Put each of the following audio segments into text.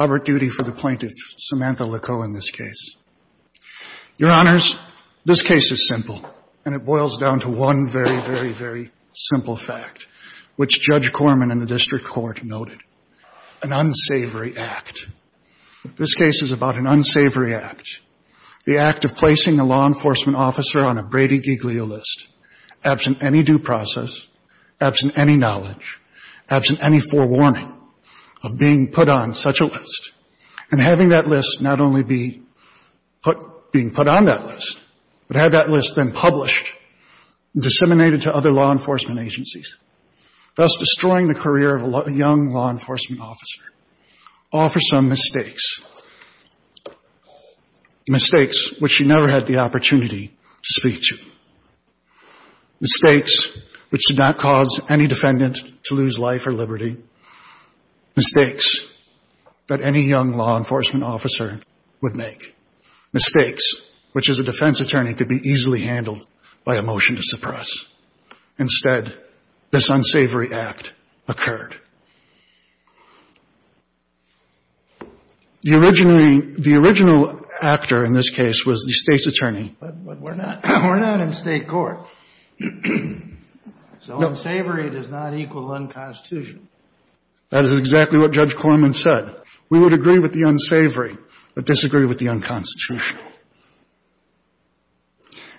Robert Duty for the plaintiff, Samantha LaCoe, in this case. Your Honors, this case is simple, and it boils down to one very, very, very simple fact, which Judge Corman in the District Court noted, an unsavory act. This case is about an unsavory act, the act of placing a law enforcement officer on a Brady Giglio list, absent any due process, absent any knowledge, absent any forewarning of being put on such a list, and having that list not only be put, being put on that list, but have that list then published and disseminated to other law enforcement agencies, thus destroying the career of a young law enforcement officer, all for some mistakes, mistakes which she never had the opportunity to speak to, mistakes which did not cause any defendant to lose life or liberty, mistakes that any young law enforcement officer would make, mistakes which, as a defense attorney, could be easily handled by a motion to suppress. Instead, this unsavory act occurred. The original actor in this case was the State's attorney. But we're not in State court. So unsavory does not equal unconstitutional. That is exactly what Judge Corman said. We would agree with the unsavory but disagree with the unconstitutional.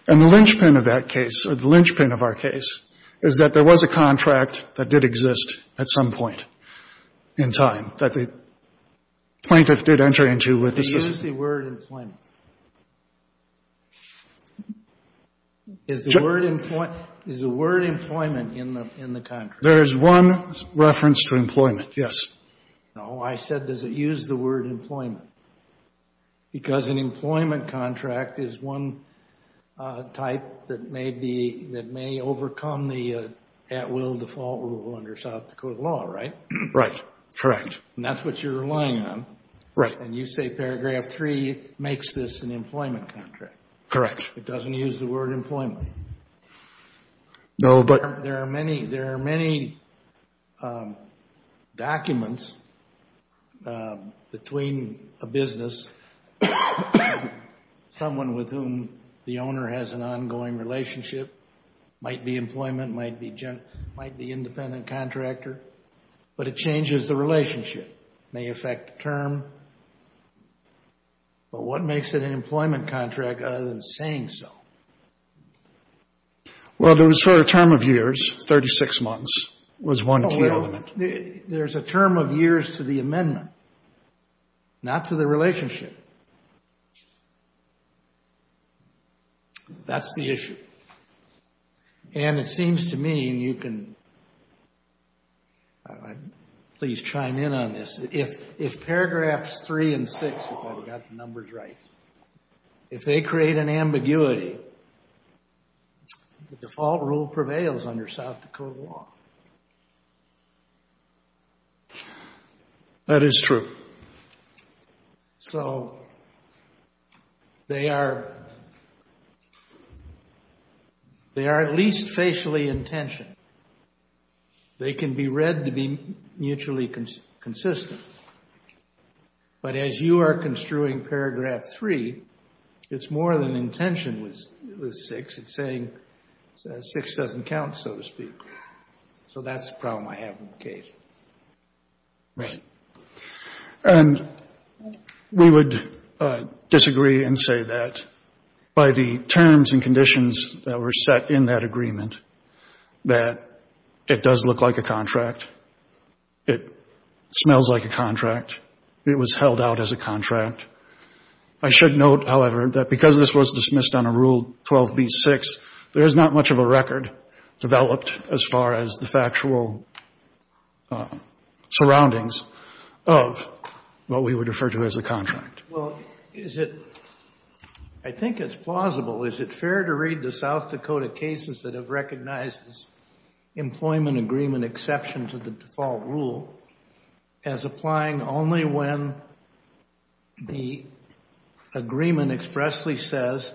And the linchpin of that case, or the linchpin of our case, is that there was a contract that did exist at some point in time that the plaintiff did enter into with the system. Does it use the word employment? Is the word employment in the contract? There is one reference to employment, yes. No, I said does it use the word employment? Because an employment contract is one type that may be, that may overcome the at-will default rule under South Dakota law, right? Right, correct. And that's what you're relying on. Right. And you say paragraph three makes this an employment contract. Correct. It doesn't use the word employment? No, but... There are many, there are many documents between a business, someone with whom the owner has an ongoing relationship, might be employment, might be independent contractor, but it changes the relationship. It may affect the term, but what makes it an employment contract other than saying so? Well, there was sort of a term of years, 36 months, was one key element. There's a term of years to the amendment, not to the relationship. That's the issue. And it seems to me, and you can, please chime in on this, if paragraphs three and six, if I've got the numbers right, if they create an ambiguity, the default rule prevails under South Dakota law. That is true. So, they are, they are at least facially intentioned. They can be read to be mutually consistent. But as you are construing paragraph three, it's more than intention with six, it's saying six doesn't count, so to speak. So that's the problem I have with the case. Right. And we would disagree and say that by the terms and conditions that were set in that agreement, that it does look like a contract. It smells like a contract. It was held out as a contract. I should note, however, that because this was dismissed on a Rule 12b-6, there is not much of a record developed as far as the factual surroundings of what we would refer to as a contract. Well, is it, I think it's plausible. Is it fair to read the South Dakota cases that have recognized this employment agreement exception to the default rule as applying only when the agreement expressly says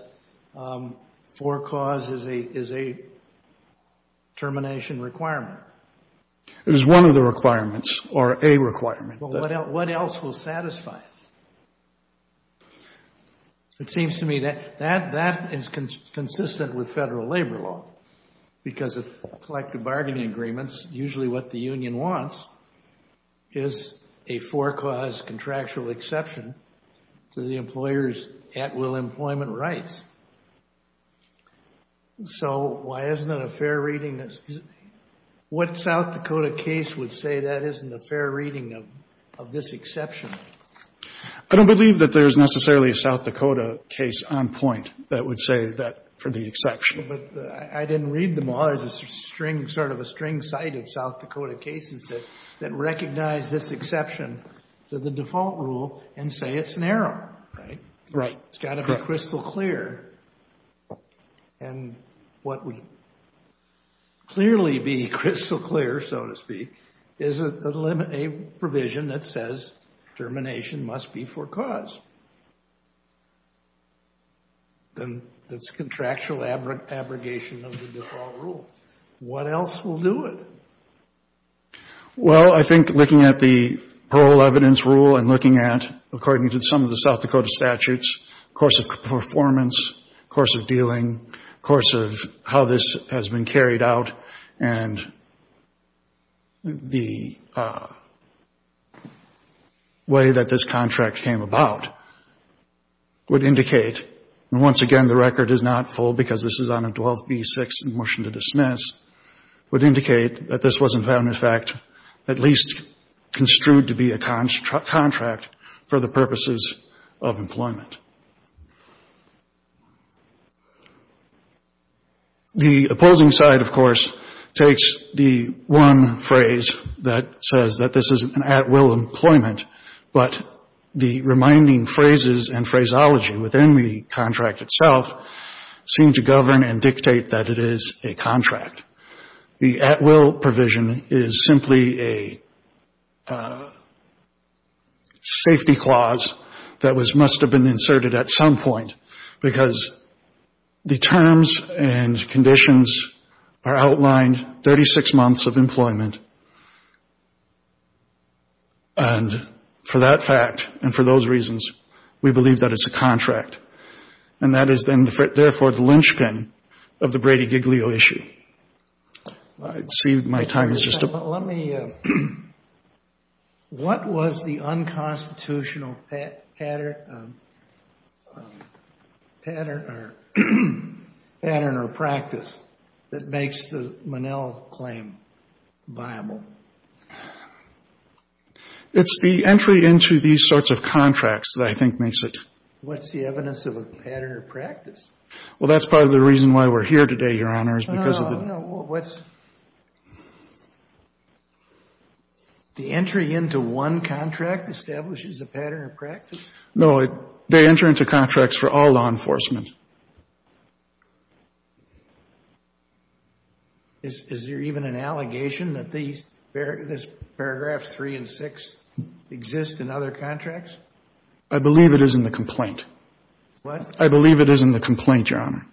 for cause is a termination requirement? It is one of the requirements, or a requirement. Well, what else will satisfy it? It seems to me that that is consistent with federal labor law. Because of collective bargaining agreements, usually what the union wants is a for-cause contractual exception to the employer's at-will employment rights. So why isn't it a fair reading? What South Dakota case would say that isn't a fair reading of this exception? I don't believe that there's necessarily a South Dakota case on point that would say that for the exception. But I didn't read them all. There's a string, sort of a string cite of South Dakota cases that recognize this exception to the default rule and say it's narrow, right? It's got to be crystal clear. And what would clearly be crystal clear, so to speak, is a provision that says termination must be for cause. That's contractual abrogation of the default rule. What else will do it? Well, I think looking at the parole evidence rule and looking at, according to some of the South Dakota statutes, course of performance, course of dealing, course of how this has been carried out, and the way that this contract came about would indicate, and once again the record is not full because this is on a 12b-6 in motion to dismiss, would indicate that this was, in fact, at least construed to be a contract for the purposes of employment. The opposing side, of course, takes the one phrase that says that this is an at-will employment, but the reminding phrases and phraseology within the contract itself seem to govern and dictate that it is a contract. The at-will provision is simply a safety clause that must have been inserted at some point, because the terms and conditions are outlined 36 months of employment, and for that fact and for those reasons we believe that it's a contract. And that is then, therefore, the linchpin of the Brady-Giglio issue. I see my time is just about up. Let me, what was the unconstitutional pattern or practice that makes the Monell claim viable? It's the entry into these sorts of contracts that I think makes it. What's the evidence of a pattern or practice? Well, that's part of the reason why we're here today, Your Honor, is because of the... The entry into one contract establishes a pattern or practice? No, they enter into contracts for all law enforcement. Is there even an allegation that this paragraph 3 and 6 exist in other contracts? I believe it is in the complaint. What? I believe it is in the complaint, Your Honor.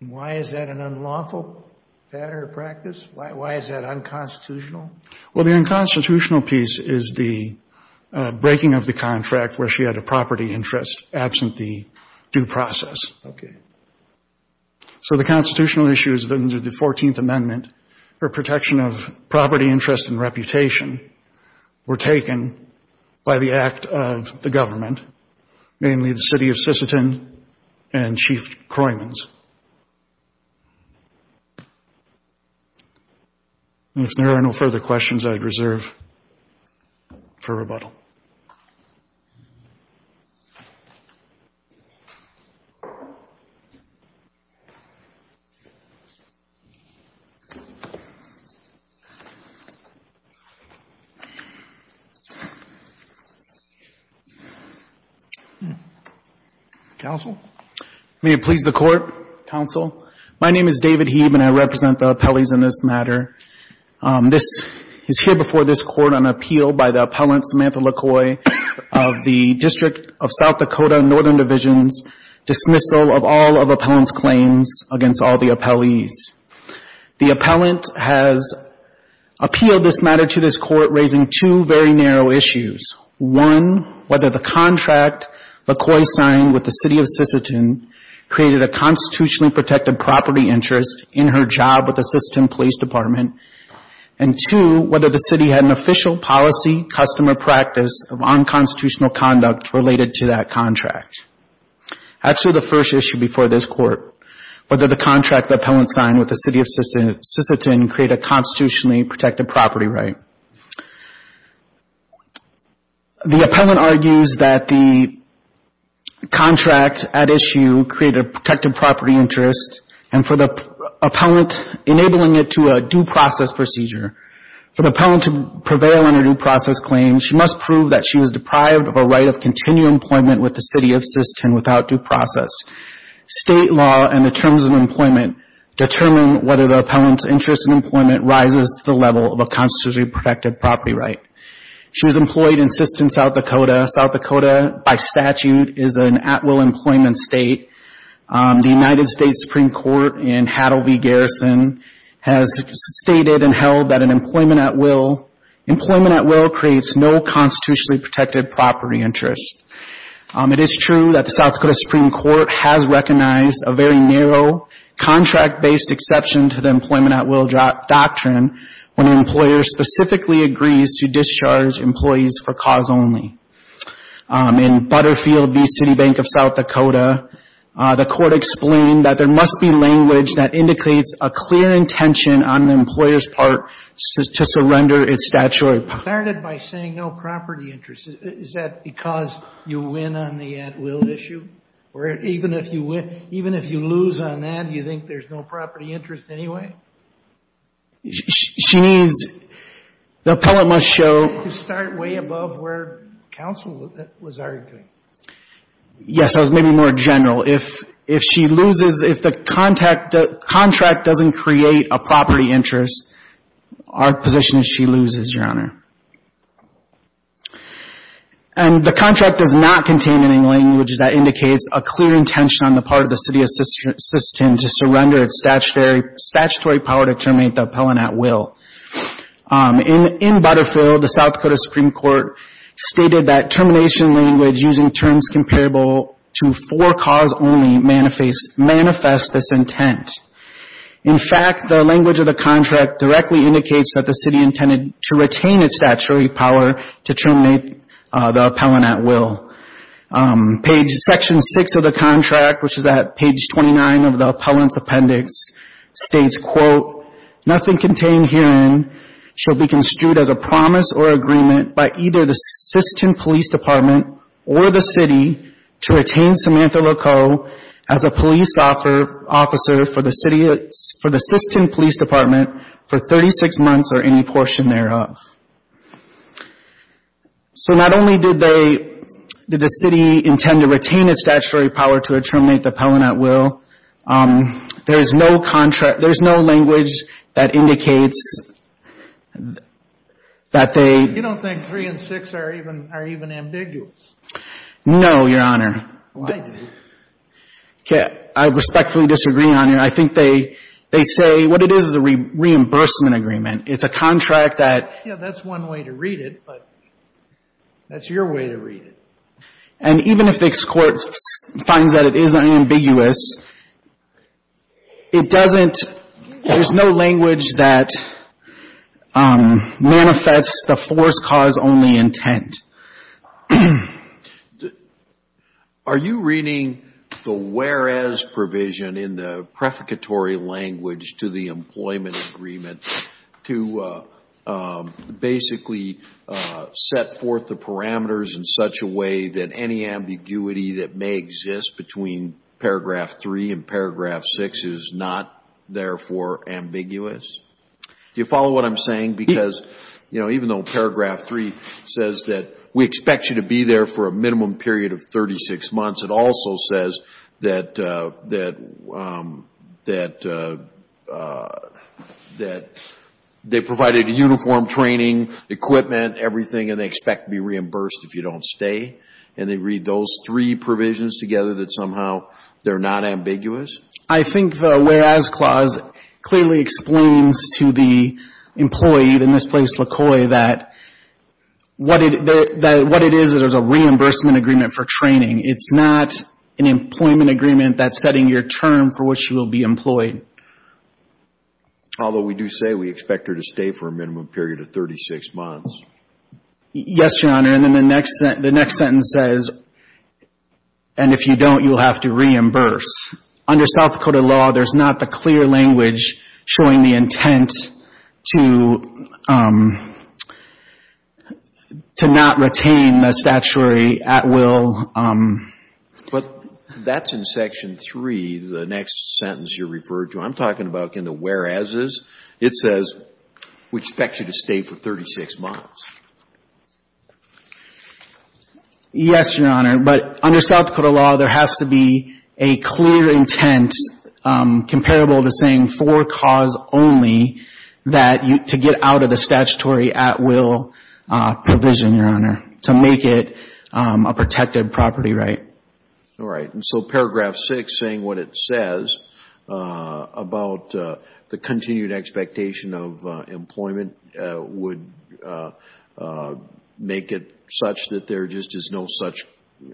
Why is that an unlawful pattern or practice? Why is that unconstitutional? Well, the unconstitutional piece is the breaking of the contract where she had a property interest absent the due process. Okay. So the constitutional issues under the 14th Amendment for protection of property interest and reputation were taken by the act of the government, mainly the city of Sisseton and Chief Croymans. If there are no further questions, I'd reserve for rebuttal. Counsel? May it please the Court, Counsel? My name is David Hebe, and I represent the appellees in this matter. This is here before this Court on appeal by the appellant, Samantha Lacoy, of the District of South Dakota Northern Divisions, dismissal of all of the appellant's claims against all the appellees. The appellant has appealed this matter to this Court, raising two very narrow issues. One, whether the contract Lacoy signed with the city of Sisseton created a constitutionally protected property interest in her job with the Sisseton Police Department, and two, whether the city had an official policy, customer practice of unconstitutional conduct related to that contract. As to the first issue before this Court, whether the contract the appellant signed with the city of Sisseton created a constitutionally protected property right. The appellant argues that the contract at issue created a protected property interest, and for the appellant enabling it to a due process procedure, for the appellant to prevail on a due process claim, she must prove that she was deprived of a right of continued employment with the city of Sisseton without due process. State law and the terms of employment determine whether the appellant's interest in employment rises to the level of a constitutionally protected property right. She was employed in Sisseton, South Dakota. South Dakota, by statute, is an at-will employment state. The United States Supreme Court in Hattle v. Garrison has stated and held that an employment at-will, employment at-will creates no constitutionally protected property interest. It is true that the South Dakota Supreme Court has recognized a very narrow contract-based exception to the employment at-will doctrine when an employer specifically agrees to discharge employees for cause only. In Butterfield v. City Bank of South Dakota, the court explained that there must be language that indicates a clear intention on the employer's part to surrender its statutory property. Starting by saying no property interest, is that because you win on the at-will issue? Or even if you win, even if you lose on that, do you think there's no property interest anyway? She needs, the appellant must show. To start way above where counsel was arguing. Yes, that was maybe more general. If she loses, if the contract doesn't create a property interest, our position is she loses, Your Honor. And the contract does not contain any language that indicates a clear intention on the part of the city of Sisseton to surrender its statutory power to terminate the appellant at-will. In Butterfield, the South Dakota Supreme Court stated that termination language using terms comparable to for-cause only manifests this intent. In fact, the language of the contract directly indicates that the city intended to retain its statutory power to terminate the appellant at-will. Page section six of the contract, which is at page 29 of the appellant's appendix, states, quote, nothing contained herein shall be construed as a promise or agreement by either the Sisseton Police Department or the city to retain Samantha Lacoe as a police officer for the Sisseton Police Department for 36 months or any portion thereof. So not only did they, did the city intend to retain its statutory power to terminate the appellant at-will, there is no contract, there is no language that indicates that they You don't think three and six are even ambiguous? No, Your Honor. Well, I do. I respectfully disagree, Your Honor. I think they say what it is is a reimbursement agreement. It's a contract that's one way to read it, but that's your way to read it. And even if the court finds that it is unambiguous, it doesn't, there's no language that Are you reading the whereas provision in the prefiguratory language to the employment agreement to basically set forth the parameters in such a way that any ambiguity that may exist between paragraph three and paragraph six is not, therefore, ambiguous? Do you follow what I'm saying? Because, you know, even though paragraph three says that we expect you to be there for a minimum period of 36 months, it also says that they provided uniform training, equipment, everything, and they expect to be reimbursed if you don't stay. And they read those three provisions together that somehow they're not ambiguous? I think the whereas clause clearly explains to the employee in this place, LaCroix, that what it is is there's a reimbursement agreement for training. It's not an employment agreement that's setting your term for which you will be employed. Although we do say we expect her to stay for a minimum period of 36 months. Yes, Your Honor. And then the next sentence says, and if you don't, you'll have to reimburse. Under South Dakota law, there's not the clear language showing the intent to not retain the statuary at will. But that's in section three, the next sentence you referred to. I'm talking about in the whereases. It says we expect you to stay for 36 months. Yes, Your Honor. But under South Dakota law, there has to be a clear intent comparable to saying for cause only that to get out of the statutory at will provision, Your Honor, to make it a protected property right. All right. And so paragraph six saying what it says about the continued expectation of making it such that there just is no such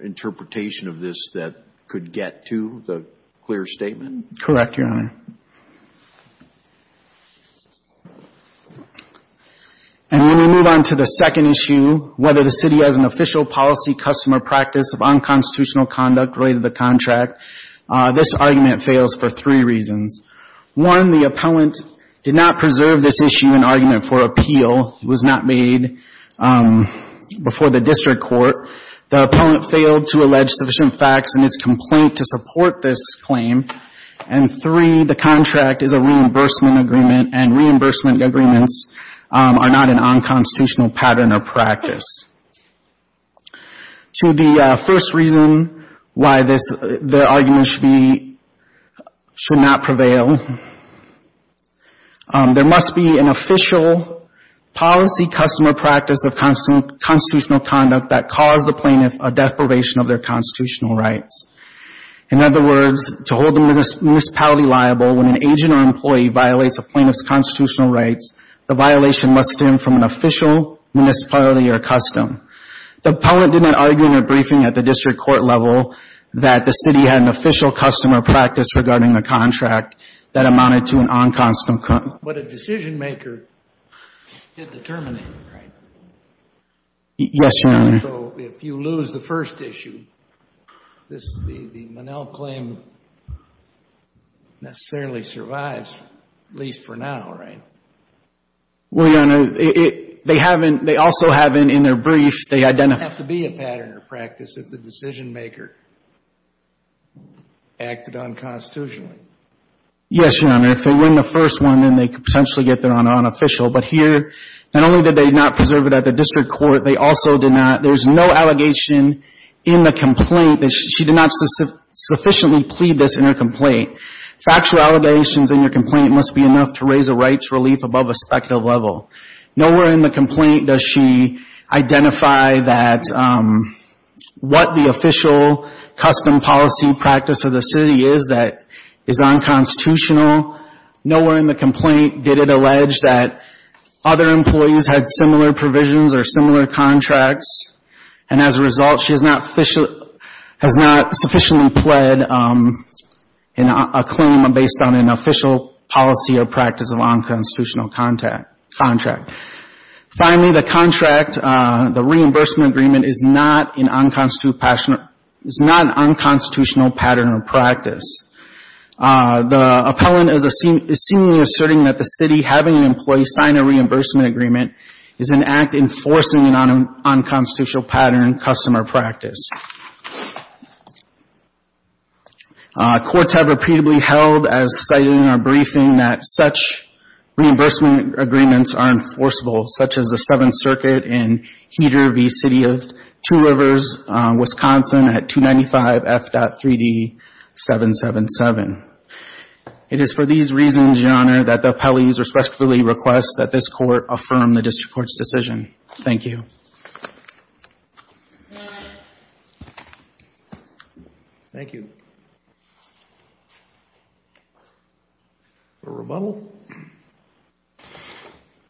interpretation of this that could get to the clear statement? Correct, Your Honor. And when we move on to the second issue, whether the city has an official policy, customer practice of unconstitutional conduct related to the contract, this argument fails for three reasons. One, the appellant did not preserve this issue in argument for appeal. It was not made before the district court. The appellant failed to allege sufficient facts in his complaint to support this claim. And three, the contract is a reimbursement agreement, and reimbursement agreements are not an unconstitutional pattern or practice. To the first reason why this argument should not prevail, there must be an official policy, customer practice of constitutional conduct that caused the plaintiff a death probation of their constitutional rights. In other words, to hold the municipality liable when an agent or employee violates a plaintiff's constitutional rights, the violation must stem from an official municipality or custom. The appellant did not argue in a briefing at the district court level that the city had an official custom or practice regarding the contract that amounted to an unconstitutional contract, but a decisionmaker did the terminating, right? Yes, Your Honor. So if you lose the first issue, the Monell claim necessarily survives, at least for now, right? Well, Your Honor, they haven't, they also haven't in their brief, they identify. It doesn't have to be a pattern or practice if the decisionmaker acted unconstitutionally. Yes, Your Honor, if they win the first one, then they could potentially get their honor on official, but here, not only did they not preserve it at the district court, they also did not, there's no allegation in the complaint that she did not sufficiently plead this in her complaint. Factual allegations in your complaint must be enough to raise the rights relief above a speculative level. Nowhere in the complaint does she identify that what the decisionmaker did was unconstitutional. Nowhere in the complaint did it allege that other employees had similar provisions or similar contracts, and as a result, she has not sufficiently pled a claim based on an official policy or practice of unconstitutional contract. Finally, the contract, the reimbursement agreement is not an unconstitutional pattern or practice. The appellant is seemingly asserting that the city having an employee sign a reimbursement agreement is an act enforcing an unconstitutional pattern, custom, or practice. Courts have repeatedly held, as cited in our briefing, that such reimbursement agreements are enforceable, such as the Seventh Circuit in Section 3D777. It is for these reasons, Your Honor, that the appellees respectfully request that this Court affirm the district court's decision. Thank you. Thank you. A rebuttal?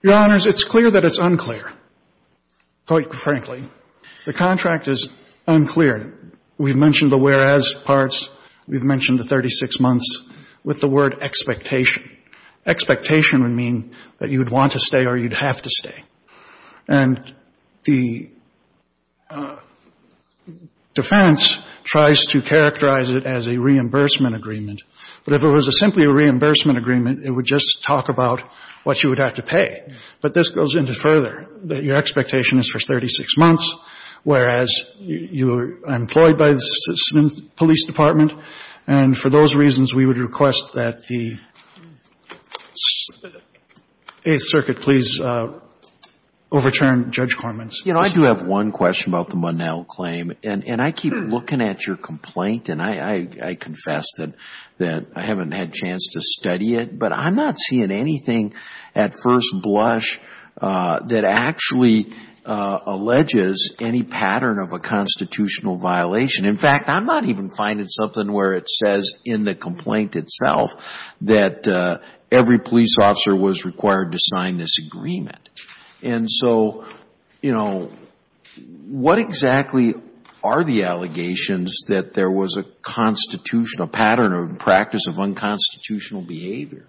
Your Honors, it's clear that it's unclear, quite frankly. The contract is unclear. We've mentioned the whereas parts. We've mentioned the 36 months with the word expectation. Expectation would mean that you would want to stay or you'd have to stay. And the defense tries to characterize it as a reimbursement agreement. But if it was simply a reimbursement agreement, it would just talk about what you would have to pay. But this goes into further, that your expectation is for 36 months, whereas you are employed by the police department. And for those reasons, we would request that the Eighth Circuit please overturn Judge Corman's decision. You know, I do have one question about the Munnell claim. And I keep looking at your complaint, and I confess that I haven't had a chance to study it. But I'm not seeing anything at first blush that actually alleges any pattern of a constitutional violation. In fact, I'm not even finding something where it says in the complaint itself that every police officer was required to sign this agreement. And so, you know, what exactly are the allegations that there was a constitutional pattern or practice of unconstitutional behavior?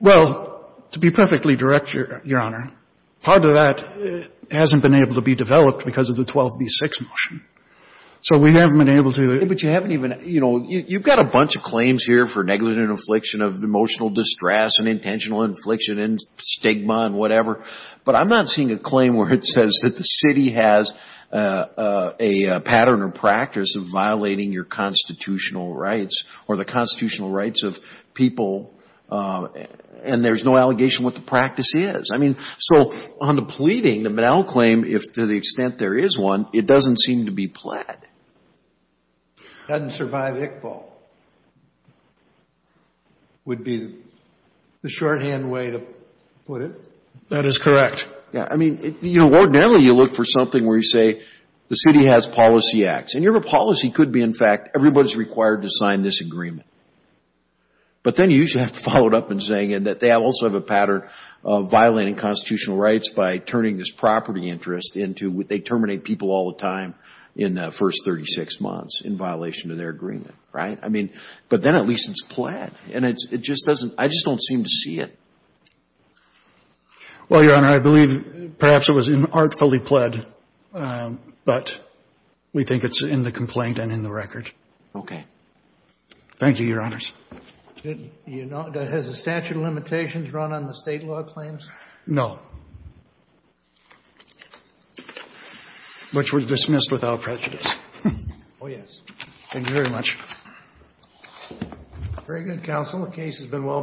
Well, to be perfectly direct, Your Honor, part of that hasn't been able to be developed because of the 12B6 motion. So we haven't been able to. But you haven't even, you know, you've got a bunch of claims here for negligent affliction of emotional distress and intentional infliction and stigma and whatever. But I'm not seeing a claim where it says that the city has a pattern or practice of violating your constitutional rights or the constitutional rights of people. And there's no allegation what the practice is. I mean, so on the pleading, the banal claim, if to the extent there is one, it doesn't seem to be plaid. Doesn't survive Iqbal would be the shorthand way to put it. That is correct. Yeah. I mean, you know, ordinarily you look for something where you say the city has policy acts. And your policy could be, in fact, everybody's required to sign this agreement. But then you usually have to follow it up in saying that they also have a pattern of violating constitutional rights by turning this property interest into they terminate people all the time in the first 36 months in violation of their agreement. Right? I mean, but then at least it's plaid. And it just doesn't I just don't seem to see it. Well, Your Honor, I believe perhaps it was artfully plaid, but we think it's in the complaint and in the record. Okay. Thank you, Your Honors. Has the statute of limitations run on the state law claims? No. Which were dismissed without prejudice. Oh, yes. Thank you very much. Very good, Counsel. The case has been well